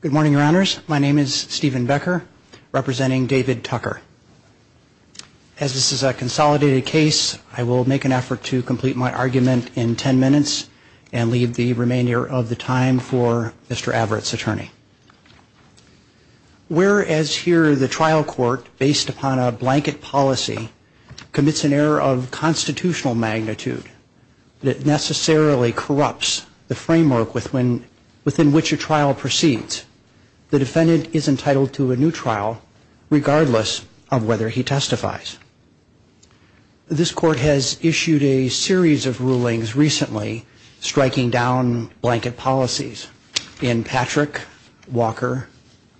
Good morning, Your Honors. My name is Stephen Becker, representing David Tucker. As this is a consolidated case, I will make an effort to complete my argument in ten minutes and leave the remainder of the time for Mr. Averett's attorney. Whereas here the trial court, based upon a blanket policy, commits an error of constitutional magnitude that necessarily corrupts the framework within within which a trial proceeds, the defendant is entitled to a new trial regardless of whether he testifies. This court has issued a series of rulings recently striking down blanket policies in Patrick, Walker,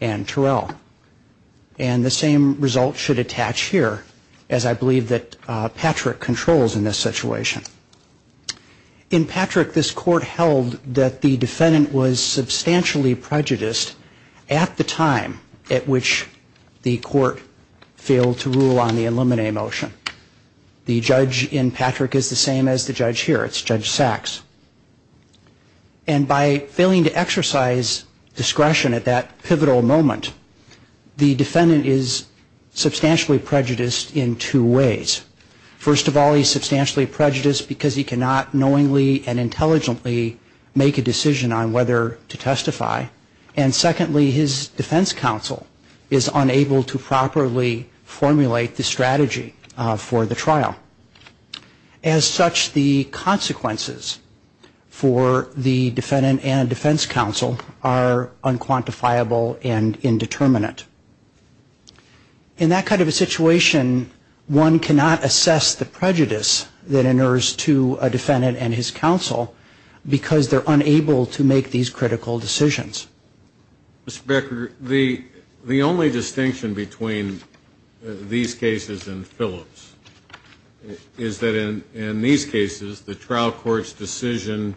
and Terrell. And the same result should attach here as I believe that Patrick controls in this situation. In Patrick, this court held that the defendant was substantially prejudiced at the time at which the court failed to rule on the Illuminate motion. The judge in Patrick is the same as the judge here. It's Judge Sachs. And by failing to exercise discretion at that pivotal moment, the defendant is substantially prejudiced in two ways. First of all, he's substantially prejudiced because he cannot knowingly and intelligently make a decision on whether to testify. And secondly, his defense counsel is unable to properly formulate the strategy for the trial. As such, the consequences for the defendant and defense counsel are unquantifiable and indeterminate. In that kind of a situation, one cannot assess the prejudice that inures to a defendant and his counsel because they're unable to make these critical decisions. Mr. Becker, the only distinction between these cases and Phillips is that in these cases, the trial court's decision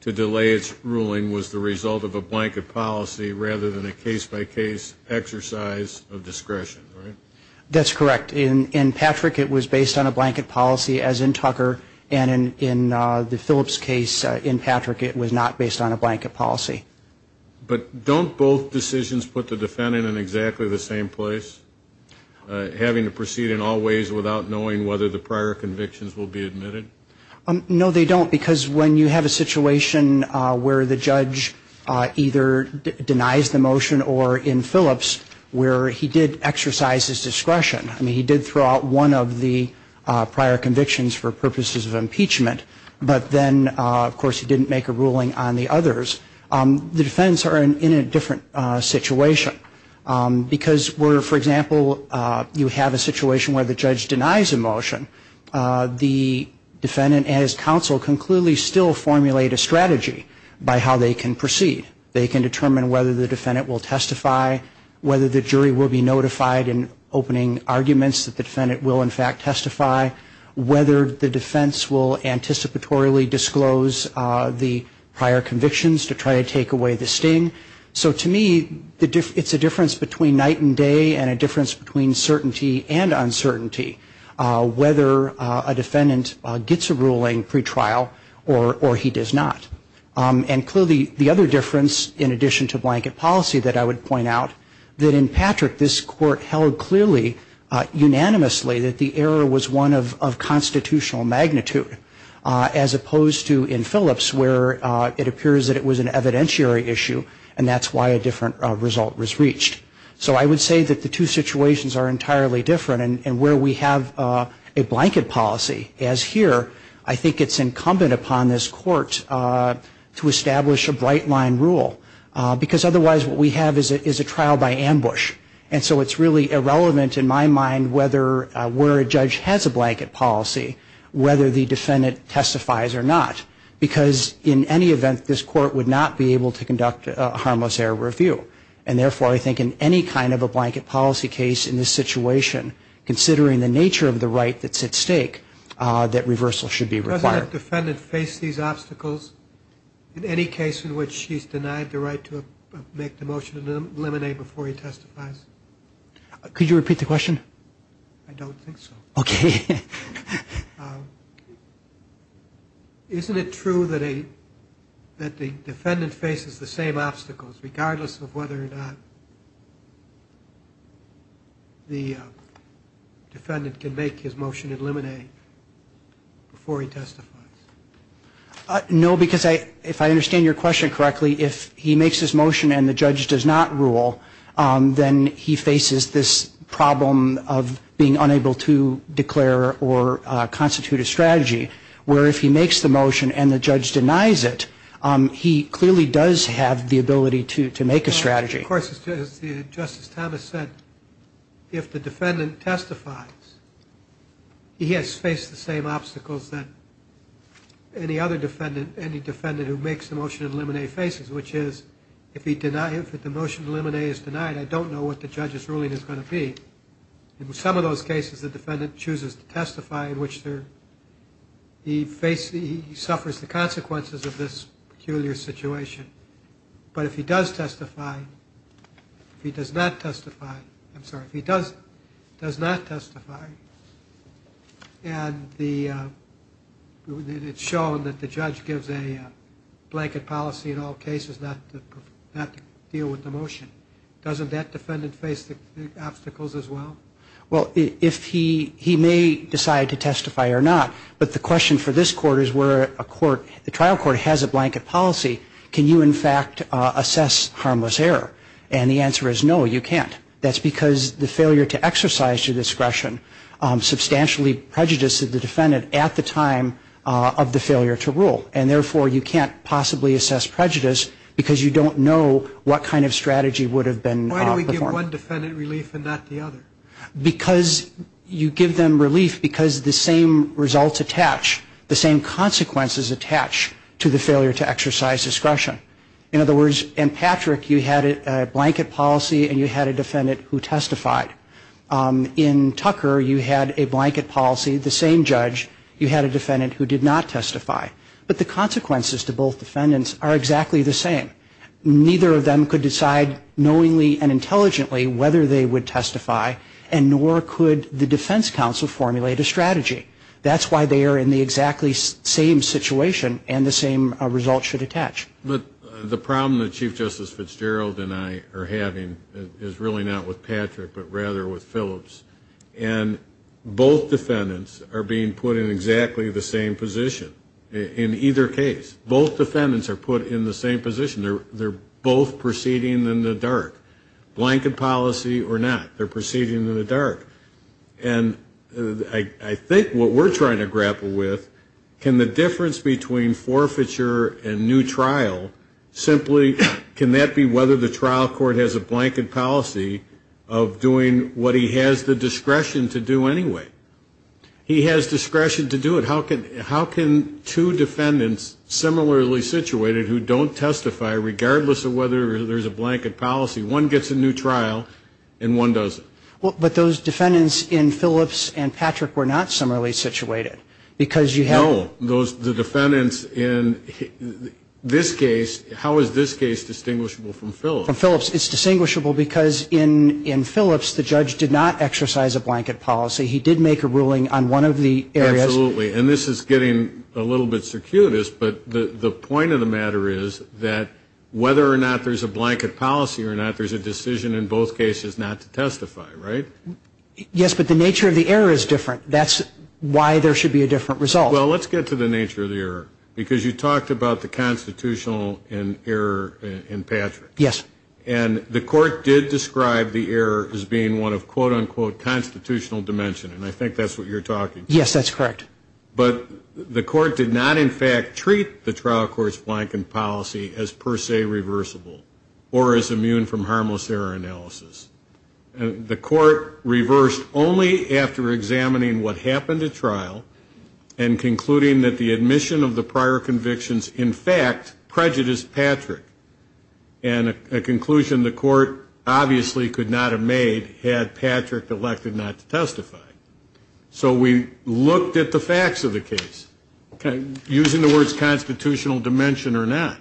to delay its ruling was the result of a blanket policy rather than a case-by-case exercise of discretion. That's correct. In Patrick, it was based on a blanket policy, as in Tucker, and in the Phillips case, in Patrick, it was not based on a blanket policy. But don't both decisions put the defendant in exactly the same place, having to proceed in all ways without knowing whether the prior convictions will be admitted? No, they don't, because when you have a situation where the judge either denies the motion or in Phillips where he did exercise his discretion, I mean, he did throw out one of the prior convictions for purposes of impeachment, but then, of course, he didn't make a ruling on the others, the defendants are in a different situation. Because where, for example, you have a situation where the judge denies a motion, the defendant and his counsel can clearly still formulate a strategy by how they can proceed. They can determine whether the defendant will testify, whether the jury will be notified in opening arguments that the defendant will, in fact, testify, whether the defense will anticipatorily disclose the prior convictions to try to take away the sting. So to me, it's a difference between night and day and a difference between certainty and uncertainty, whether a defendant gets a ruling pretrial or he does not. And clearly, the other difference, in addition to blanket policy that I would point out, that in Patrick, this court held clearly, unanimously, that the error was one of constitutional magnitude, as opposed to in Phillips where it appears that it was an evidentiary issue and that's why a different result was reached. So I would say that the two situations are entirely different. And where we have a blanket policy, as here, I think it's incumbent upon this court to establish a bright-line rule, because otherwise what we have is a trial by ambush. And so it's really irrelevant, in my mind, where a judge has a blanket policy, whether the defendant testifies or not, because in any event, this court would not be able to conduct a harmless error review. And therefore, I think in any kind of a blanket policy case in this situation, considering the nature of the right that's at stake, that reversal should be required. Does that defendant face these obstacles in any case in which she's denied the right to make the motion and eliminate before he testifies? Could you repeat the question? I don't think so. OK. Isn't it true that the defendant faces the same obstacles, regardless of whether he testifies? No, because if I understand your question correctly, if he makes his motion and the judge does not rule, then he faces this problem of being unable to declare or constitute a strategy, where if he makes the motion and the judge denies it, he clearly does have the ability to make a strategy. Of course, as Justice Thomas said, if the defendant testifies, he has faced the same obstacles that any defendant who makes the motion to eliminate faces, which is, if the motion to eliminate is denied, I don't know what the judge's ruling is going to be. In some of those cases, the defendant chooses to testify in which he suffers the consequences of this peculiar situation. But if he does not testify, and it's shown that the judge gives a blanket policy in all cases not to deal with the motion, doesn't that defendant face the obstacles as well? Well, he may decide to testify or not, but the question for this court is where the trial court has a blanket policy. Can you, in fact, assess harmless error? And the answer is no, you can't. That's because the failure to exercise your discretion substantially prejudices the defendant at the time of the failure to rule. And therefore, you can't possibly assess prejudice because you don't know what kind of strategy would have been performed. Why do we give one defendant relief and not the other? Because you give them relief because the same results attach, the same consequences attach to the failure to exercise discretion. In other words, in Patrick, you had a blanket policy and you had a defendant who testified. In Tucker, you had a blanket policy, the same judge, you had a defendant who did not testify. But the consequences to both defendants are exactly the same. Neither of them could decide knowingly and intelligently whether they would testify, and nor could the defense counsel formulate a strategy. That's why they are in the exactly same situation and the same result should attach. But the problem that Chief Justice Fitzgerald and I are having is really not with Patrick, but rather with Phillips. And both defendants are being put in exactly the same position in either case. Both defendants are put in the same position. They're both proceeding in the dark. And I think what we're trying to grapple with, can the difference between forfeiture and new trial simply, can that be whether the trial court has a blanket policy of doing what he has the discretion to do anyway? He has discretion to do it. How can two defendants similarly situated who don't testify, regardless of whether there's a blanket policy, one gets a new trial and one doesn't? But those defendants in Phillips and Patrick were not similarly situated. Because you have- No, the defendants in this case, how is this case distinguishable from Phillips? From Phillips, it's distinguishable because in Phillips, the judge did not exercise a blanket policy. He did make a ruling on one of the areas- Absolutely, and this is getting a little bit circuitous, but the point of the matter is that whether or not there's a blanket policy or not, there's a decision in both cases not to testify, right? Yes, but the nature of the error is different. That's why there should be a different result. Well, let's get to the nature of the error, because you talked about the constitutional error in Patrick. Yes. And the court did describe the error as being one of quote unquote constitutional dimension, and I think that's what you're talking about. Yes, that's correct. But the court did not in fact treat the trial court's blanket policy as per se irreversible or as immune from harmless error analysis. The court reversed only after examining what happened at trial and concluding that the admission of the prior convictions in fact prejudiced Patrick. And a conclusion the court obviously could not have made had Patrick elected not to testify. So we looked at the facts of the case, using the words constitutional dimension or not.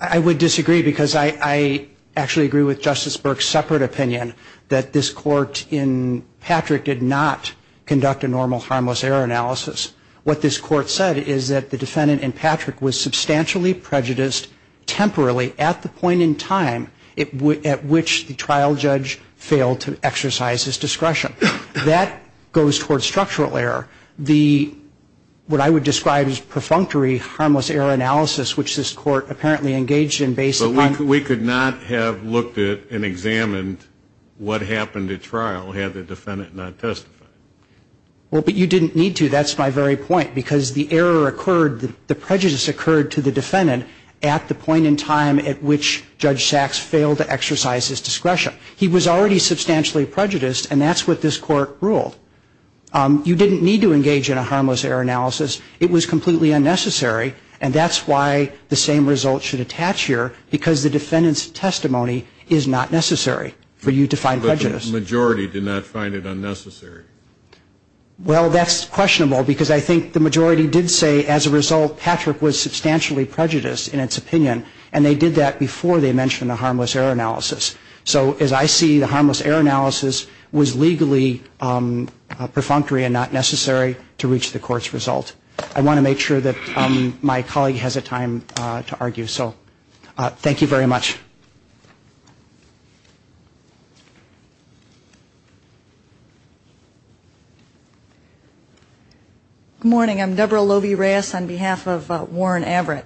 I would disagree, because I actually agree with Justice Burke's separate opinion that this court in Patrick did not conduct a normal harmless error analysis. What this court said is that the defendant in Patrick was substantially prejudiced temporarily at the point in time at which the trial judge failed to exercise his discretion. That goes towards structural error. The, what I would describe as perfunctory harmless error analysis, which this court apparently engaged in based upon- But we could not have looked at and examined what happened at trial had the defendant not testified. Well, but you didn't need to. That's my very point, because the error occurred, the prejudice occurred to the defendant at the point in time at which Judge Sachs failed to exercise his discretion. He was already substantially prejudiced, and that's what this court ruled. You didn't need to engage in a harmless error analysis. It was completely unnecessary, and that's why the same result should attach here, because the defendant's testimony is not necessary for you to find prejudice. But the majority did not find it unnecessary. Well, that's questionable, because I think the majority did say, as a result, Patrick was substantially prejudiced in its opinion, and they did that before they mentioned the harmless error analysis. So, as I see, the harmless error analysis was legally perfunctory and not necessary to reach the court's result. I want to make sure that my colleague has a time to argue. So, thank you very much. Good morning. I'm Debra Lovi-Reyes on behalf of Warren Averitt.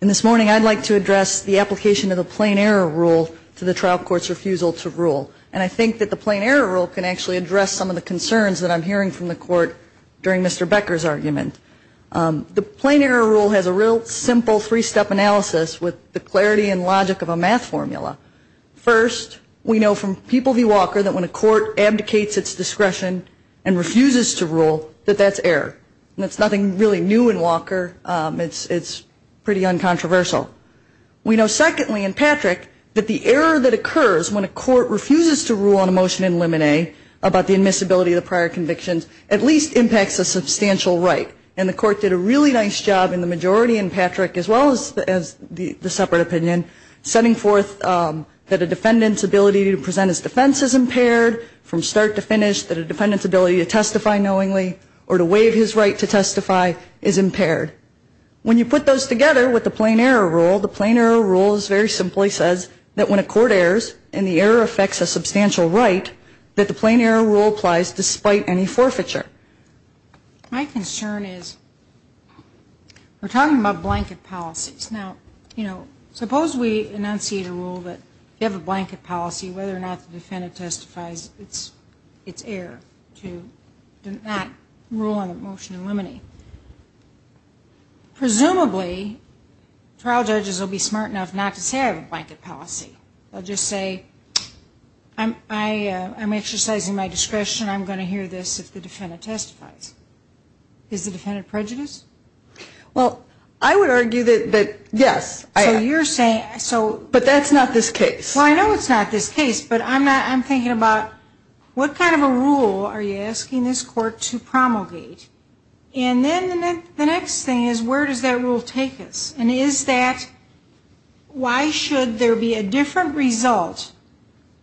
And this morning, I'd like to address the application of the plain error rule to the trial court's refusal to rule. And I think that the plain error rule can actually address some of the concerns that I'm hearing from the court during Mr. Becker's argument. The plain error rule has a real simple three-step analysis with the clarity and logic of a math formula. First, we know from People v. Walker that when a court abdicates its discretion and refuses to rule, that that's error. That's nothing really new in Walker. It's pretty uncontroversial. We know, secondly, in Patrick, that the error that occurs when a court refuses to rule on a motion in Limine about the admissibility of the prior convictions at least impacts a substantial right. And the court did a really nice job in the majority in Patrick, as well as the separate opinion, setting forth that a defendant's ability to present his defense is impaired from start to finish, that a defendant's ability to testify knowingly or to waive his right to testify is impaired. When you put those together with the plain error rule, the plain error rule very simply says that when a court errors and the error affects a substantial right, that the plain error rule applies despite any forfeiture. My concern is, we're talking about blanket policies. Now, you know, suppose we enunciate a rule that you have a blanket policy, whether or not the defendant testifies, it's error to not rule on a motion in Limine. Presumably, trial judges will be smart enough not to say I have a blanket policy. They'll just say, I'm exercising my discretion. I'm going to hear this if the defendant testifies. Is the defendant prejudiced? Well, I would argue that, yes. So you're saying, so. But that's not this case. Well, I know it's not this case, but I'm thinking about, what kind of a rule are you asking this court to promulgate? And then the next thing is, where does that rule take us? And is that, why should there be a different result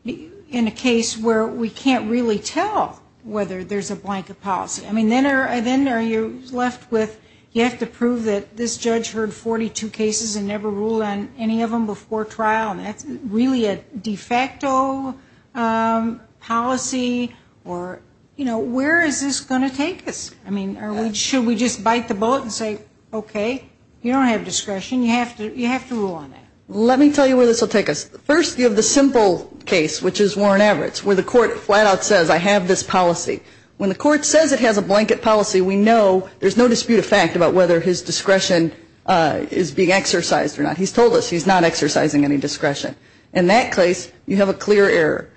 in a case where we can't really tell whether there's a blanket policy? I mean, then you're left with, you have to prove that this judge heard 42 cases and never ruled on any of them before trial, and that's really a de facto policy. Or, you know, where is this going to take us? I mean, are we, should we just bite the bullet and say, okay, you don't have discretion, you have to rule on that? Let me tell you where this will take us. First, you have the simple case, which is Warren Everett's, where the court flat out says, I have this policy. When the court says it has a blanket policy, we know there's no dispute of fact about whether his discretion is being exercised or not. He's told us he's not exercising any discretion. In that case, you have a clear error.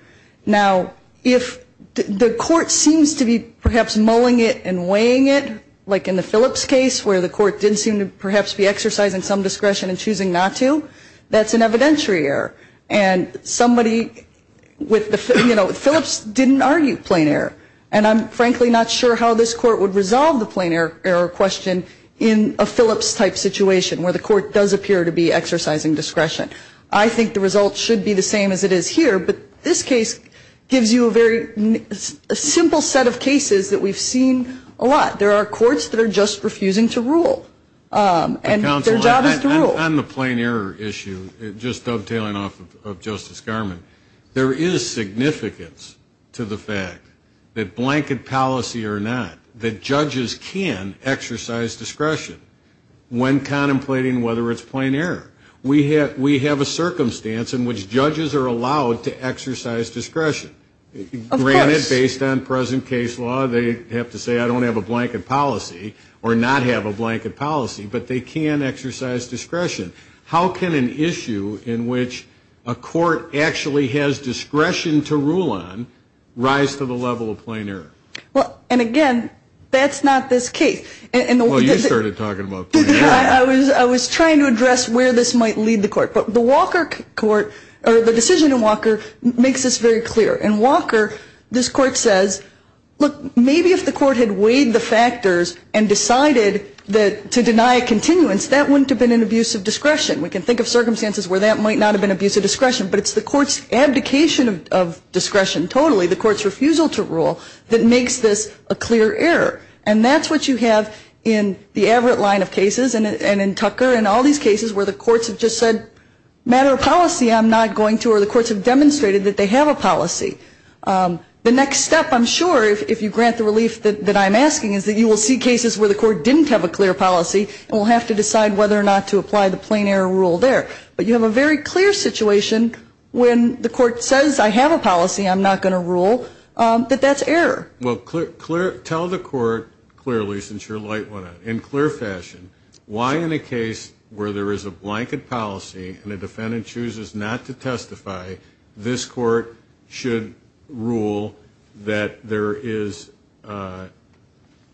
Now, if the court seems to be perhaps mulling it and weighing it, like in the Phillips case, where the court didn't seem to perhaps be exercising some discretion and choosing not to, that's an evidentiary error. And somebody with the, you know, Phillips didn't argue plain error. And I'm frankly not sure how this court would resolve the plain error question in a Phillips-type situation, where the court does appear to be exercising discretion. I think the result should be the same as it is here. But this case gives you a very simple set of cases that we've seen a lot. There are courts that are just refusing to rule. And their job is to rule. On the plain error issue, just dovetailing off of Justice Garmon, there is significance to the fact that blanket policy or not, that judges can exercise discretion when contemplating whether it's plain error. We have a circumstance in which judges are allowed to exercise discretion. Granted, based on present case law, they have to say, I don't have a blanket policy or not have a blanket policy, but they can exercise discretion. How can an issue in which a court actually has discretion to rule on rise to the level of plain error? Well, and again, that's not this case. Well, you started talking about plain error. I was trying to address where this might lead the court. But the Walker court, or the decision in Walker, makes this very clear. In Walker, this court says, look, maybe if the court had weighed the factors and decided to deny a continuance, that wouldn't have been an abuse of discretion. We can think of circumstances where that might not have been abuse of discretion, but it's the court's abdication of discretion totally, the court's refusal to rule, that makes this a clear error. And that's what you have in the Averitt line of cases and in Tucker and all these cases where the courts have just said, matter of policy, I'm not going to, or the courts have demonstrated that they have a policy. The next step, I'm sure, if you grant the relief that I'm asking, is that you will see cases where the court didn't have a clear policy and will have to decide whether or not to apply the plain error rule there. But you have a very clear situation when the court says, I have a policy, I'm not going to rule, that that's error. Well, tell the court clearly, since you're a light one, in clear fashion, why in a case where there is a blanket policy and a defendant chooses not to testify, this court should rule that there is,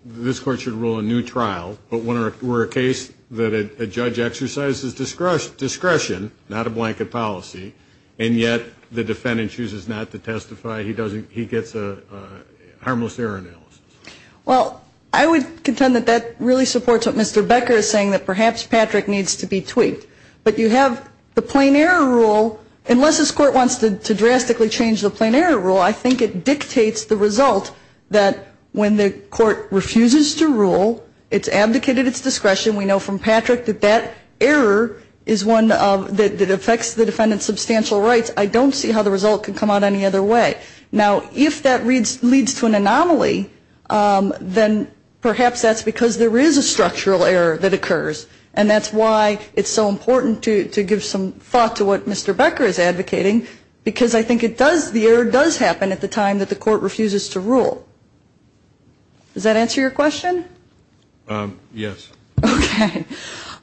this court should rule a new trial, but were a case that a judge exercises discretion, not a blanket policy, and yet the defendant chooses not to testify, he gets a harmless error analysis. Well, I would contend that that really supports what Mr. Becker is saying, that perhaps Patrick needs to be tweaked. But you have the plain error rule, unless this court wants to drastically change the plain error rule, I think it dictates the result that when the court refuses to rule, it's abdicated its discretion. We know from Patrick that that error is one that affects the defendant's substantial rights. I don't see how the result can come out any other way. Now, if that leads to an anomaly, then perhaps that's because there is a structural error that occurs. And that's why it's so important to give some thought to what Mr. Becker is advocating, because I think it does, the error does happen at the time that the court refuses to rule. Does that answer your question? Yes. Okay.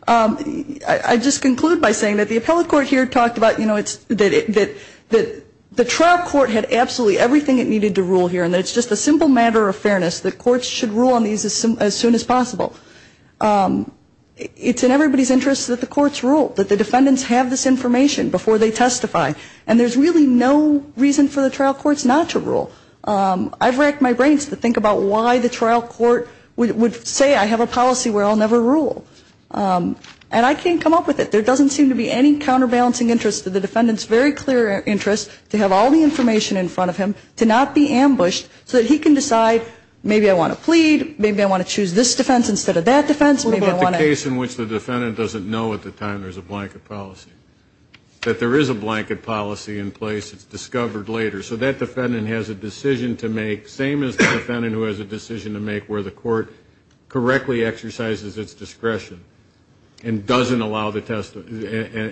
I just conclude by saying that the appellate court here talked about, you know, that the trial court had absolutely everything it needed to rule here, and it's just a simple matter of fairness that courts should rule on these as soon as possible. It's in everybody's interest that the courts rule, that the defendants have this information before they testify. And there's really no reason for the trial courts not to rule. I've racked my brains to think about why the trial court would say I have a policy where I'll never rule, and I can't come up with it. There doesn't seem to be any counterbalancing interest to the defendant's very clear interest to have all the information in front of him, to not be ambushed so that he can decide, maybe I want to plead, maybe I want to choose this defense instead of that defense. What about the case in which the defendant doesn't know at the time there's a blanket policy? That there is a blanket policy in place, it's discovered later. So that defendant has a decision to make, same as the defendant who has a decision to make where the court correctly exercises its discretion and doesn't allow the testimony,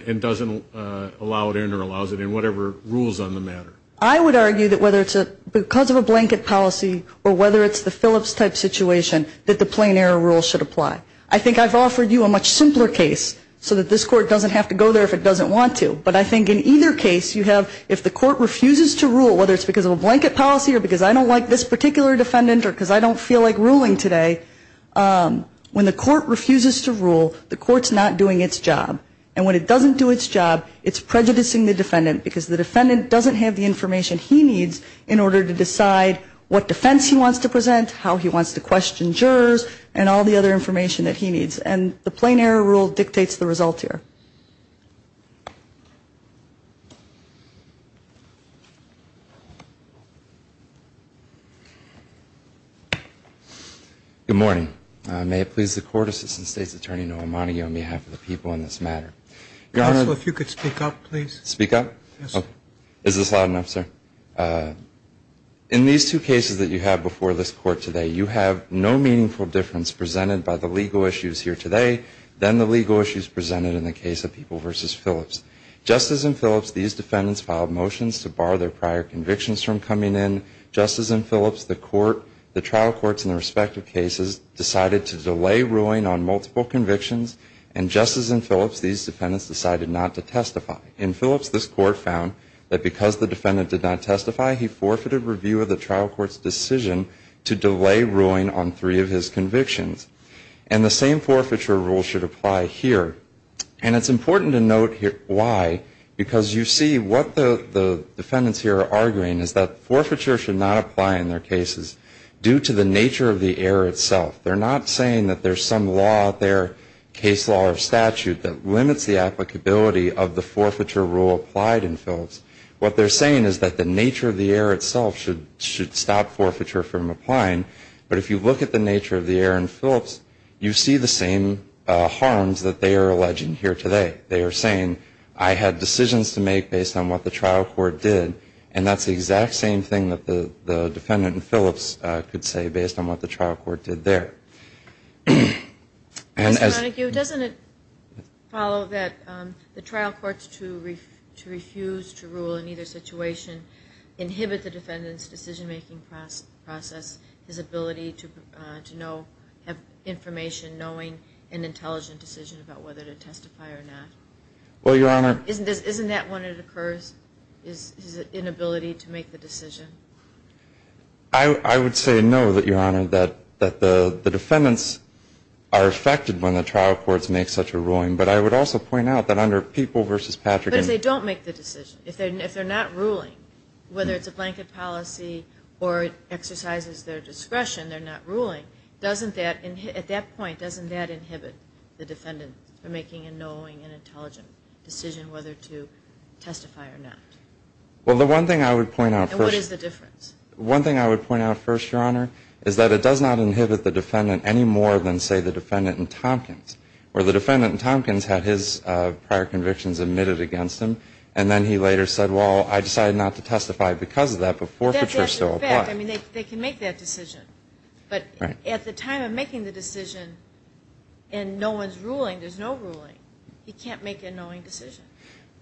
and doesn't allow it in or allows it in, whatever rules on the matter. I would argue that whether it's because of a blanket policy, or whether it's the Phillips type situation, that the plain error rule should apply. I think I've offered you a much simpler case, so that this court doesn't have to go there if it doesn't want to, but I think in either case, you have, if the court refuses to rule, whether it's because of a blanket policy or because I don't like this particular defendant or because I don't feel like ruling today, when the court refuses to rule, the court's not doing its job. I would argue that the plain error rule should apply to the defendant because the defendant doesn't have the information he needs in order to decide what defense he wants to present, how he wants to question jurors, and all the other information that he needs, and the plain error rule dictates the result here. Good morning. May it please the court assistant state's attorney, Noah Montague, on behalf of the people in this matter. Counsel, if you could speak up, please. Speak up? Yes, sir. Is this loud enough, sir? In these two cases that you have before this court today, you have no meaningful difference presented by the legal issues here today than the legal issues presented in the case of People v. Phillips. Just as in Phillips, these defendants filed motions to bar their prior convictions from coming in. Just as in Phillips, the trial courts in the respective cases decided to delay ruling on multiple convictions. And just as in Phillips, these defendants decided not to testify. In Phillips, this court found that because the defendant did not testify, he forfeited review of the trial court's decision to delay ruling on three of his convictions. And the same forfeiture rule should apply here. And it's important to note here why. Because you see what the defendants here are arguing is that forfeiture should not apply in their cases due to the nature of the error itself. They're not saying that there's some law out there, case law or statute, that limits the applicability of the forfeiture rule applied in Phillips. What they're saying is that the nature of the error itself should stop forfeiture from applying. But if you look at the nature of the error in Phillips, you see the same harms that they are alleging here today. They are saying, I had decisions to make based on what the trial court did. And that's the exact same thing that the defendant in Phillips could say based on what the trial court did there. Ms. Montague, doesn't it follow that the trial courts to refuse to rule in either situation inhibit the defendant's decision-making process, his ability to have information, knowing an intelligent decision about whether to testify or not? Isn't that when it occurs, his inability to make the decision? I would say no, that the defendants are affected when the trial courts make such a ruling. But I would also point out that under People v. Patrick... If they don't make the decision, if they're not ruling, whether it's a blanket policy or it exercises their discretion, they're not ruling, doesn't that, at that point, doesn't that inhibit the defendant from making a knowing and intelligent decision whether to testify or not? Well, the one thing I would point out first... And what is the difference? One thing I would point out first, Your Honor, is that it does not inhibit the defendant any more than, say, the defendant in Tompkins. Where the defendant in Tompkins had his prior convictions admitted against him, and then he later said, well, I decided not to testify because of that, but forfeiture still applies. That's a fact. I mean, they can make that decision. But at the time of making the decision, and no one's ruling, there's no ruling. He can't make a knowing decision.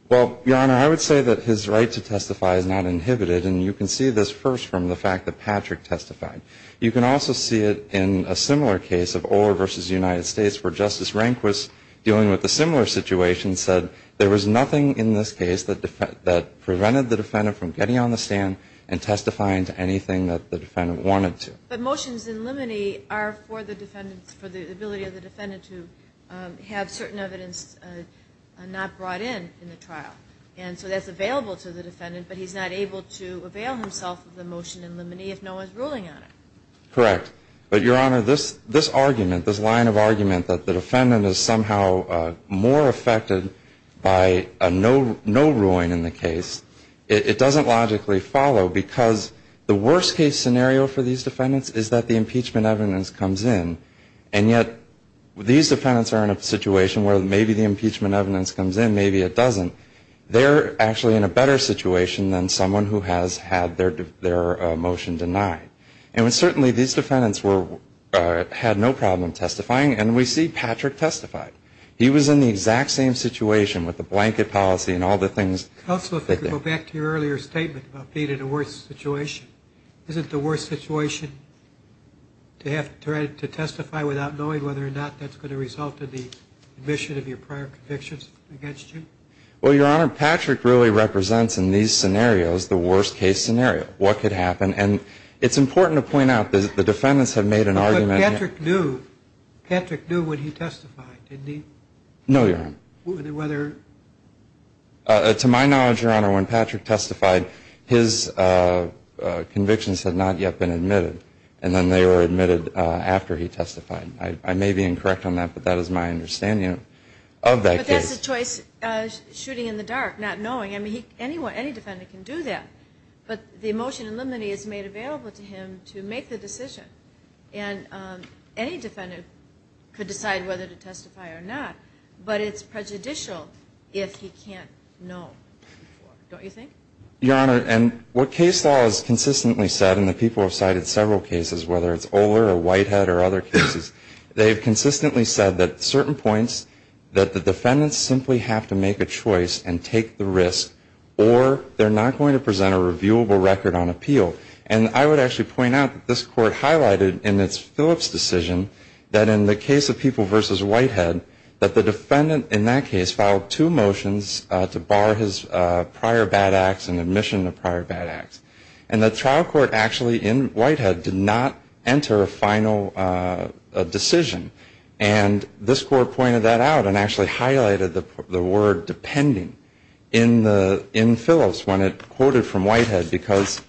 Well, Your Honor, I would say that his right to testify is not inhibited, and you can see this first from the fact that Patrick testified. You can also see it in a similar case of Orr v. United States, where Justice Rehnquist, dealing with a similar situation, said there was nothing in this case that prevented the defendant from getting on the stand and testifying to anything that the defendant wanted to. But motions in limine are for the ability of the defendant to have certain evidence not brought in in the trial. And so that's available to the defendant, but he's not able to avail himself of the motion in limine if no one's ruling on it. Correct. But, Your Honor, this argument, this line of argument that the defendant is somehow more affected by no ruling in the case, it doesn't logically follow because the worst-case scenario for these defendants is that the impeachment evidence comes in, and yet these defendants are in a situation where maybe the impeachment evidence comes in, maybe it doesn't. They're actually in a better situation than someone who has had their motion denied. And certainly these defendants had no problem testifying, and we see Patrick testified. He was in the exact same situation with the blanket policy and all the things. Counsel, if I could go back to your earlier statement about being in a worse situation. Isn't the worst situation to have to try to testify without knowing whether or not that's going to result in the admission of your prior convictions against you? Well, Your Honor, Patrick really represents in these scenarios the worst-case scenario. What could happen? And it's important to point out that the defendants have made an argument. But Patrick knew. Patrick knew when he testified, didn't he? No, Your Honor. Whether... To my knowledge, Your Honor, when Patrick testified, his convictions had not yet been admitted. And then they were admitted after he testified. I may be incorrect on that, but that is my understanding of that case. But that's the choice, shooting in the dark, not knowing. I mean, any defendant can do that. But the motion in limine is made available to him to make the decision. And any defendant could decide whether to testify or not. But it's prejudicial if he can't know. Don't you think? Your Honor, and what case law has consistently said, and the people have cited several cases, whether it's Oler or Whitehead or other cases, they've consistently said at certain points that the defendants simply have to make a choice and take the risk, or they're not going to present a reviewable record on appeal. And I would actually point out that this Court highlighted in its Phillips decision that in the case of People v. Whitehead, that the defendant in that case filed two motions to bar his prior bad acts and admission of prior bad acts. And the trial court actually in Whitehead did not enter a final decision. And this Court pointed that out and actually highlighted the word depending in Phillips when it quoted from Whitehead, because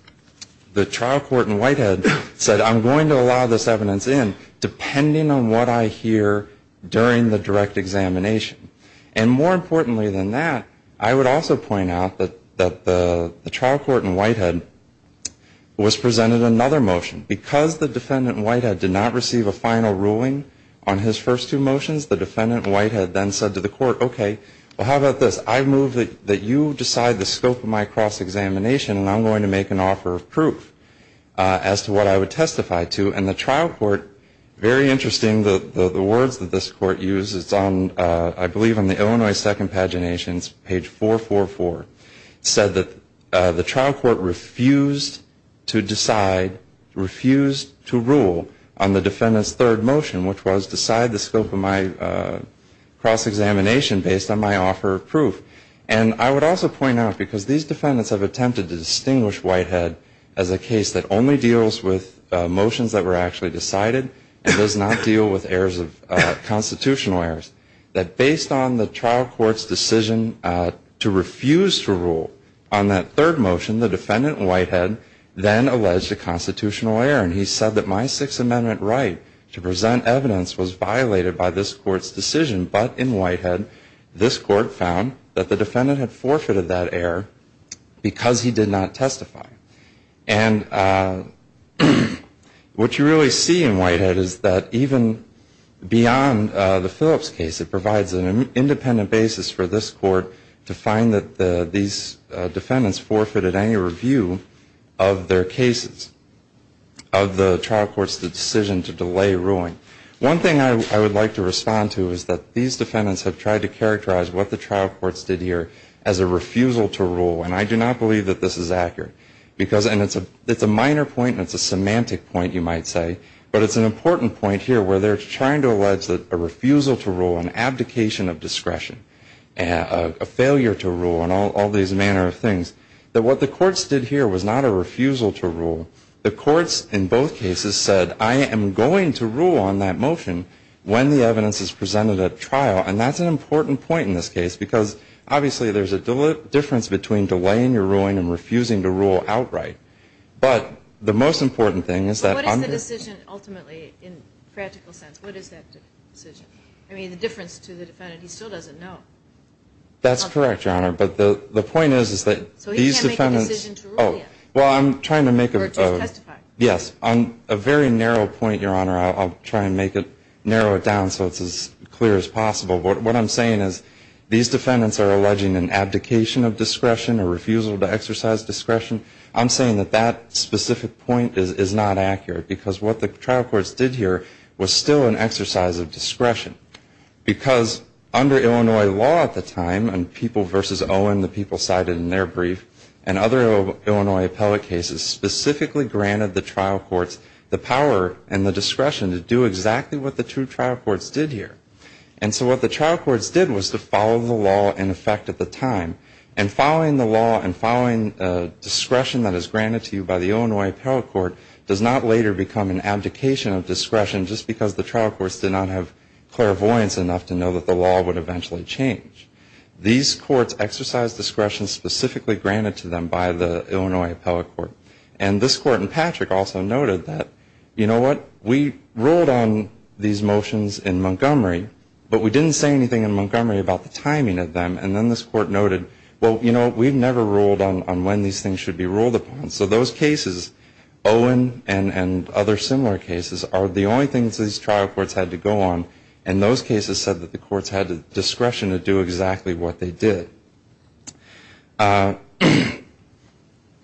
the trial court in Whitehead said, I'm going to allow this evidence in depending on what I hear during the direct examination. And more importantly than that, I would also point out that the trial court in Whitehead was presented another motion. Because the defendant in Whitehead did not receive a final ruling on his first two motions, the defendant in Whitehead then said to the Court, okay, well, how about this? I move that you decide the scope of my cross-examination, and I'm going to make an offer of proof as to what I would testify to. And the trial court, very interesting, the words that this Court used, it's on, I believe, on the Illinois Second Paginations, page 444, said that the trial court refused to decide, refused to rule on the defendant's third motion, which was decide the scope of my cross-examination based on my offer of proof. And I would also point out, because these defendants have attempted to distinguish Whitehead as a case that only deals with motions that were actually decided and does not deal with constitutional errors, that based on the trial court's decision to refuse to rule on that third motion, the defendant in Whitehead then alleged a constitutional error. And he said that my Sixth Amendment right to present evidence was violated by this Court's decision, but in Whitehead, this Court found that the defendant had forfeited that error because he did not testify. And what you really see in Whitehead is that even beyond the Phillips case, it provides an independent basis for this Court to find that these defendants forfeited any review of their cases, of the trial court's decision to delay ruling. One thing I would like to respond to is that these defendants have tried to characterize what the trial courts did here as a refusal to rule. And I do not believe that this is accurate. And it's a minor point and it's a semantic point, you might say, but it's an important point here where they're trying to allege that a refusal to rule and abdication of discretion, a failure to rule and all these manner of things, that what the courts did here was not a refusal to rule. The courts in both cases said, I am going to rule on that motion when the evidence is presented at trial, and that's an important point in this case because obviously there's a difference between delaying your ruling and refusing to rule outright. But the most important thing is that I'm... I'm trying to make a... Yes, on a very narrow point, Your Honor, I'll try and narrow it down so it's as clear as possible. What I'm saying is these defendants are alleging an abdication of discretion, a refusal to exercise discretion. I'm saying that that specific point is not accurate because what the trial courts did here was still an exercise of discretion. Because they're trying to make a decision to rule. Because under Illinois law at the time, and people versus Owen, the people cited in their brief, and other Illinois appellate cases specifically granted the trial courts the power and the discretion to do exactly what the two trial courts did here. And so what the trial courts did was to follow the law in effect at the time. And following the law and following discretion that is granted to you by the Illinois appellate court does not later become an abdication of discretion just because the trial courts did not have clairvoyance enough to know that the law would eventually change. These courts exercised discretion specifically granted to them by the Illinois appellate court. And this court in Patrick also noted that, you know what, we ruled on these motions in Montgomery, but we didn't say anything in Montgomery about the timing of them. And then this court noted, well, you know, we've never ruled on when these things should be ruled upon. And so those cases, Owen and other similar cases, are the only things these trial courts had to go on. And those cases said that the courts had discretion to do exactly what they did.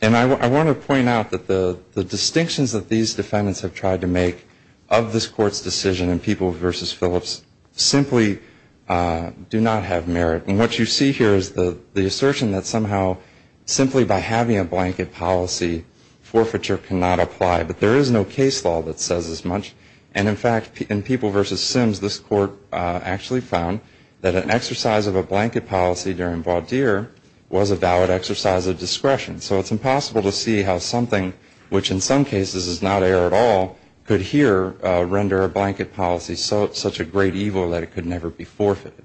And I want to point out that the distinctions that these defendants have tried to make of this court's decision in people versus Phillips simply do not have merit. And what you see here is the assertion that somehow simply by having a blanket policy, forfeiture cannot apply. But there is no case law that says as much. And in fact, in people versus Sims, this court actually found that an exercise of a blanket policy during Baudire was a valid exercise of discretion. So it's impossible to see how something, which in some cases is not error at all, could here render a blanket policy such a great evil that it could never be forfeited.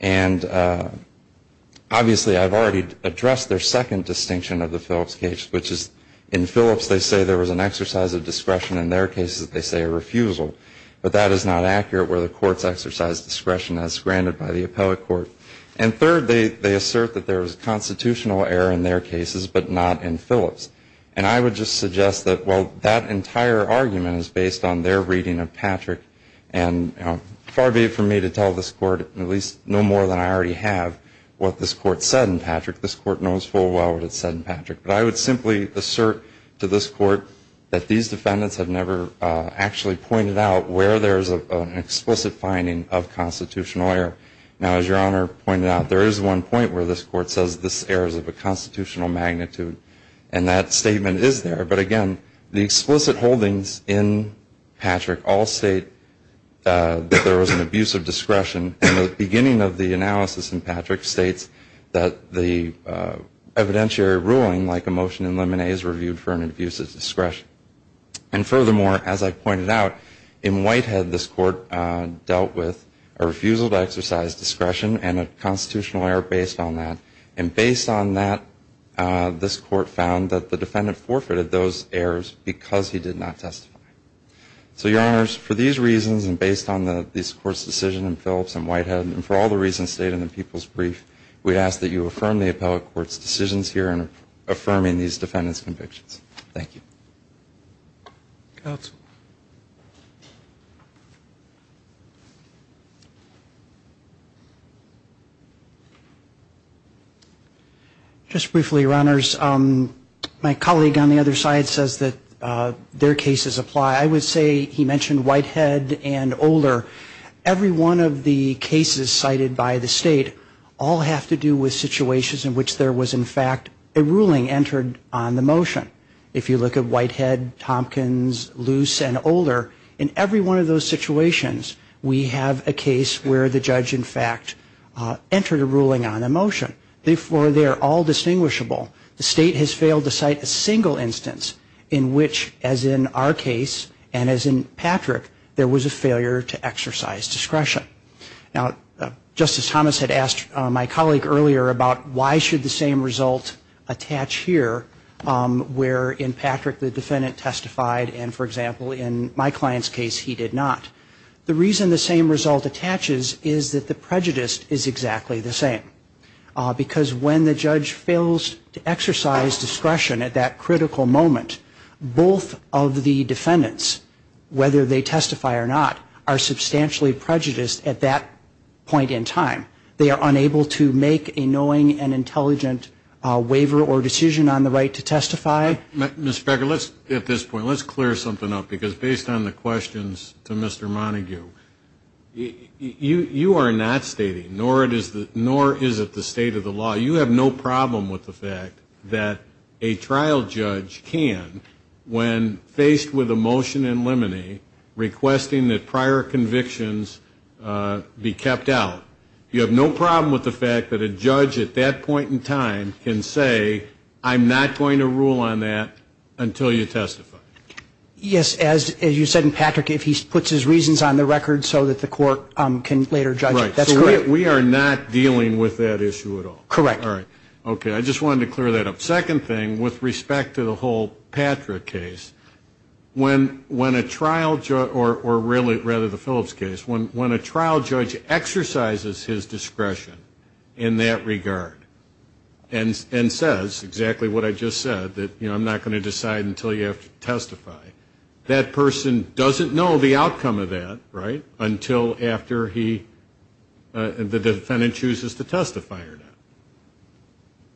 And obviously I've already addressed their second distinction of the Phillips case, which is in Phillips they say there was an exercise of discretion in their cases, they say a refusal. But that is not accurate where the courts exercise discretion as granted by the appellate court. And third, they assert that there was constitutional error in their cases but not in Phillips. And I would just suggest that while that entire argument is based on their reading of Patrick, and far be it from me to tell this court, at least no more than I already have, what this court said in Patrick. This court knows full well what it said in Patrick. But I would simply assert to this court that these defendants have never actually pointed out where there is an explicit finding of constitutional error. Now, as Your Honor pointed out, there is one point where this court says this error is of a constitutional magnitude. And that statement is there. But again, the explicit holdings in Patrick all state that there was an abuse of discretion. And the beginning of the analysis in Patrick states that the evidentiary ruling, like a motion in Lemonet, is reviewed for an abuse of discretion. And furthermore, as I pointed out, in Whitehead this court dealt with a refusal to exercise discretion and a constitutional error based on that. And based on that, this court found that the defendant forfeited those errors because he did not testify. So, Your Honors, for these reasons and based on this court's decision in Phillips and Whitehead, and for all the reasons stated in the People's Brief, we ask that you affirm the appellate court's decisions here in affirming these defendants' convictions. Thank you. Counsel. Just briefly, Your Honors, my colleague on the other side says that their cases apply. I would say he mentioned Whitehead and Older. Every one of the cases cited by the state all have to do with situations in which there was, in fact, a ruling entered on the motion. If you look at Whitehead, Tompkins, Loose, and Older, in every one of those situations, we have a case where the judge, in fact, entered a ruling on a motion. Therefore, they are all distinguishable. The state has failed to cite a single instance in which, as in our case and as in Patrick, there was a failure to exercise discretion. Now, Justice Thomas had asked my colleague earlier about why should the same result attach here where, in Patrick, the defendant testified, and, for example, in my client's case, he did not. The reason the same result attaches is that the prejudice is exactly the same, because when the judge fails to exercise discretion at that critical moment, both of the defendants, whether they testify or not, are substantially prejudiced at that point in time. They are unable to make a knowing and intelligent waiver or decision on the right to testify. Mr. Becker, at this point, let's clear something up, because based on the questions to Mr. Montague, you are not stating, nor is it the state of the law, you have no problem with the fact that a trial judge can, when faced with a motion in limine, requesting that prior convictions be kept out. You have no problem with the fact that a judge at that point in time can say, I'm not going to rule on that until you testify. Yes, as you said in Patrick, if he puts his reasons on the record so that the court can later judge it, that's correct. Right. So we are not dealing with that issue at all. Correct. All right. Okay. I just wanted to clear that up. Second thing, with respect to the whole Patrick case, when a trial judge, or really, rather, the Phillips case, when a trial judge exercises his discretion in that regard and says exactly what I just said, that I'm not going to decide until you have to testify, that person doesn't know the outcome of that, right, until after the defendant chooses to testify or not.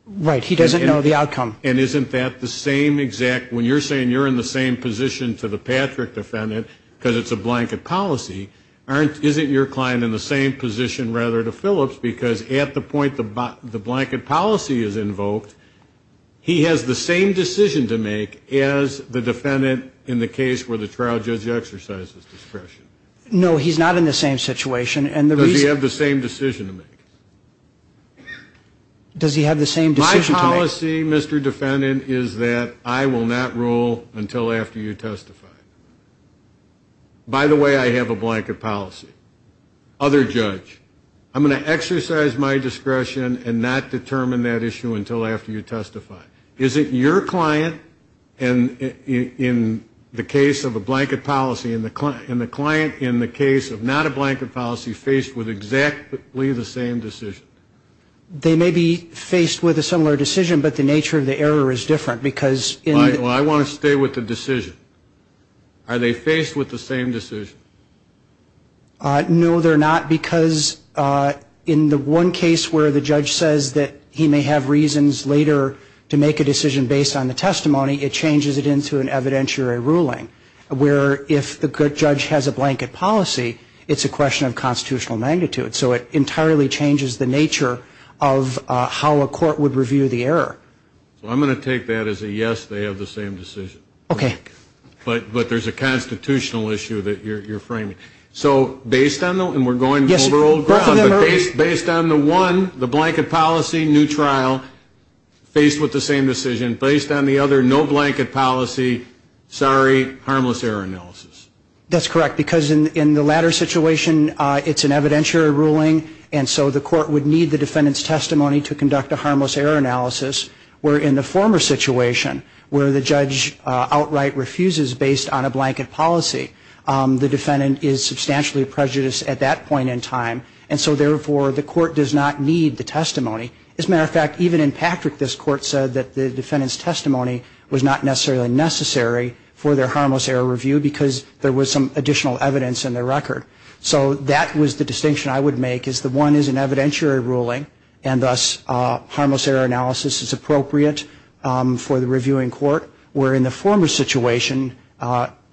Right. He doesn't know the outcome. And isn't that the same exact, when you're saying you're in the same position to the Patrick defendant because it's a blanket policy, isn't your client in the same position, rather, to Phillips because at the point the blanket policy is invoked, he has the same decision to make as the defendant in the case where the trial judge exercises discretion. No, he's not in the same situation. Does he have the same decision to make? Does he have the same decision to make? My policy, Mr. Defendant, is that I will not rule until after you testify. By the way, I have a blanket policy. Other judge, I'm going to exercise my discretion and not determine that issue until after you testify. Is it your client in the case of a blanket policy and the client in the case of not a blanket policy faced with exactly the same decision? They may be faced with a similar decision, but the nature of the error is different because in the... Well, I want to stay with the decision. Are they faced with the same decision? No, they're not because in the one case where the judge says that he may have reasons later to make a decision based on the testimony, it changes it into an evidentiary ruling where if the judge has a blanket policy, it's a question of constitutional magnitude. So it entirely changes the nature of how a court would review the error. So I'm going to take that as a yes, they have the same decision. Okay. But there's a constitutional issue that you're framing. So based on the... Yes, both of them are... Based on the one, the blanket policy, new trial, faced with the same decision. Based on the other, no blanket policy, sorry, harmless error analysis. That's correct because in the latter situation, it's an evidentiary ruling and so the court would need the defendant's testimony to conduct a harmless error analysis where in the former situation where the judge outright refuses based on a blanket policy, the defendant is substantially prejudiced at that point in time and so therefore the court does not need the testimony. As a matter of fact, even in Patrick, this court said that the defendant's testimony was not necessarily necessary for their harmless error review because there was some additional evidence in their record. So that was the distinction I would make is that one is an evidentiary ruling and thus harmless error analysis is appropriate for the reviewing court where in the former situation,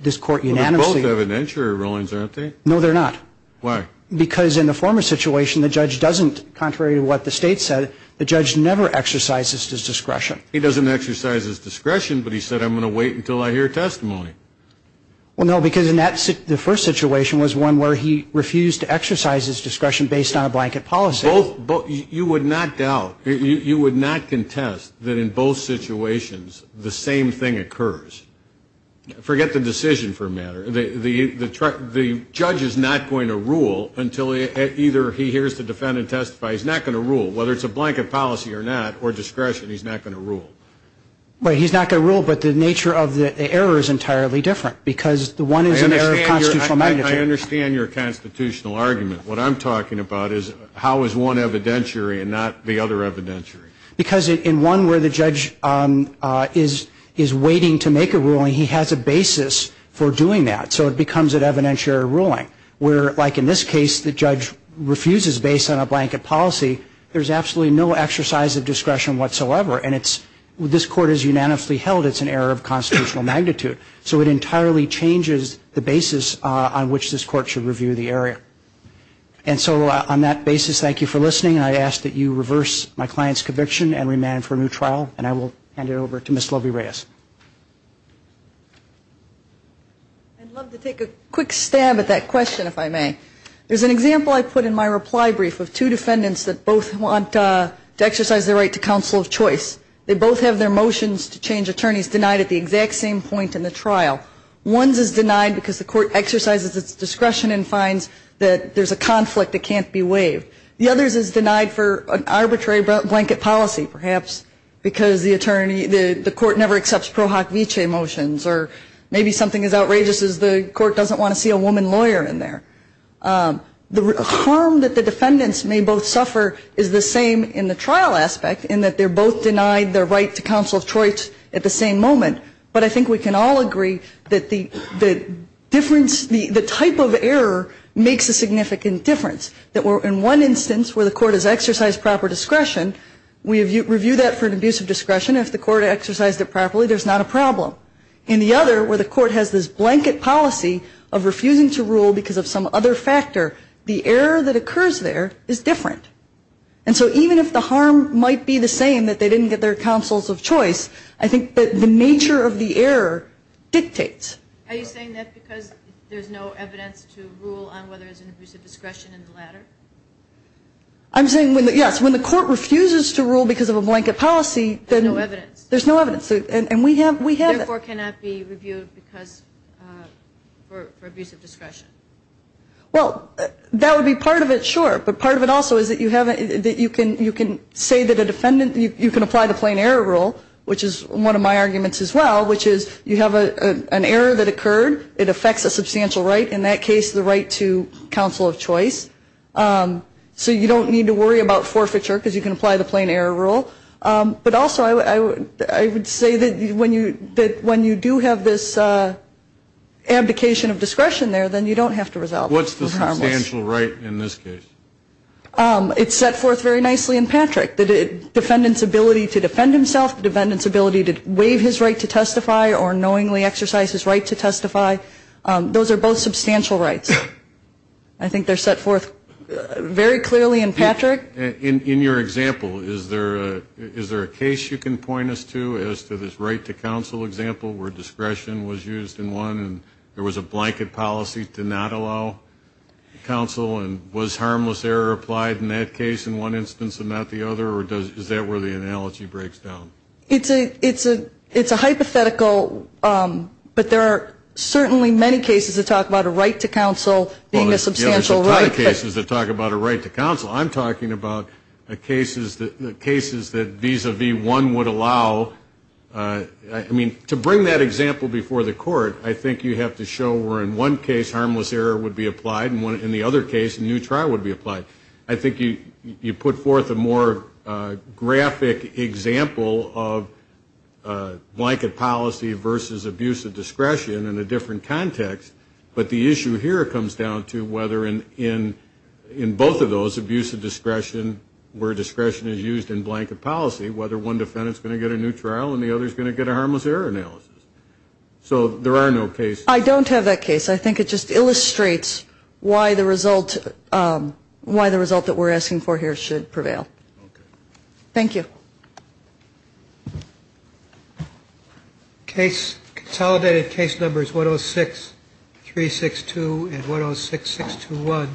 this court unanimously... Well, they're both evidentiary rulings, aren't they? No, they're not. Why? Because in the former situation, the judge doesn't, contrary to what the state said, the judge never exercises his discretion. He doesn't exercise his discretion but he said, I'm going to wait until I hear testimony. Well, no, because in the first situation was one where he refused to exercise his discretion based on a blanket policy. You would not doubt, you would not contest that in both situations the same thing occurs. Forget the decision for a matter. The judge is not going to rule until either he hears the defendant testify. He's not going to rule. Whether it's a blanket policy or not or discretion, he's not going to rule. Right. He's not going to rule but the nature of the error is entirely different because the one is an error of constitutional magnitude. I understand your constitutional argument. What I'm talking about is how is one evidentiary and not the other evidentiary. Because in one where the judge is waiting to make a ruling, he has a basis for doing that. So it becomes an evidentiary ruling where, like in this case, the judge refuses based on a blanket policy, there's absolutely no exercise of discretion whatsoever and this court is unanimously held it's an error of constitutional magnitude. So it entirely changes the basis on which this court should review the area. And so on that basis, thank you for listening. I ask that you reverse my client's conviction and remand for a new trial and I will hand it over to Ms. Lovey-Reyes. I'd love to take a quick stab at that question if I may. There's an example I put in my reply brief of two defendants that both want to exercise their right to counsel of choice. They both have their motions to change attorneys denied at the exact same point in the trial. One's is denied because the court exercises its discretion and finds that there's a conflict that can't be waived. The other's is denied for an arbitrary blanket policy perhaps because the court never accepts Pro Hoc Vitae motions or maybe something as outrageous as the court doesn't want to see a woman lawyer in there. The harm that the defendants may both suffer is the same in the trial aspect in that they're both denied their right to counsel of choice at the same moment. But I think we can all agree that the difference, the type of error makes a significant difference. In one instance where the court has exercised proper discretion, we review that for an abuse of discretion. If the court exercised it properly, there's not a problem. In the other where the court has this blanket policy of refusing to rule because of some other factor, the error that occurs there is different. And so even if the harm might be the same that they didn't get their counsels of choice, I think that the nature of the error dictates. Are you saying that because there's no evidence to rule on whether there's an abuse of discretion in the latter? I'm saying, yes, when the court refuses to rule because of a blanket policy, There's no evidence. There's no evidence. Therefore cannot be reviewed for abuse of discretion. Well, that would be part of it, sure. But part of it also is that you can say that a defendant, you can apply the plain error rule, which is one of my arguments as well, which is you have an error that occurred. It affects a substantial right, in that case the right to counsel of choice. So you don't need to worry about forfeiture because you can apply the plain error rule. But also I would say that when you do have this abdication of discretion there, then you don't have to resolve. What's the substantial right in this case? It's set forth very nicely in Patrick. The defendant's ability to defend himself, the defendant's ability to waive his right to testify or knowingly exercise his right to testify. Those are both substantial rights. I think they're set forth very clearly in Patrick. In your example, is there a case you can point us to as to this right to counsel example where discretion was used in one and there was a blanket policy to not allow counsel and was harmless error applied in that case in one instance and not the other? Or is that where the analogy breaks down? It's a hypothetical, but there are certainly many cases that talk about a right to counsel being a substantial right. Well, there's a ton of cases that talk about a right to counsel. I'm talking about cases that vis-a-vis one would allow. I mean, to bring that example before the court, I think you have to show where in one case harmless error would be applied and in the other case a new trial would be applied. I think you put forth a more graphic example of blanket policy versus abuse of discretion in a different context. But the issue here comes down to whether in both of those, abuse of discretion, where discretion is used in blanket policy, whether one defendant is going to get a new trial and the other is going to get a harmless error analysis. So there are no cases. I don't have that case. I think it just illustrates why the result that we're asking for here should prevail. Okay. Thank you. Case, consolidated case numbers 106-362 and 106-621 will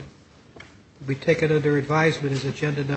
be taken under advisement as agenda number.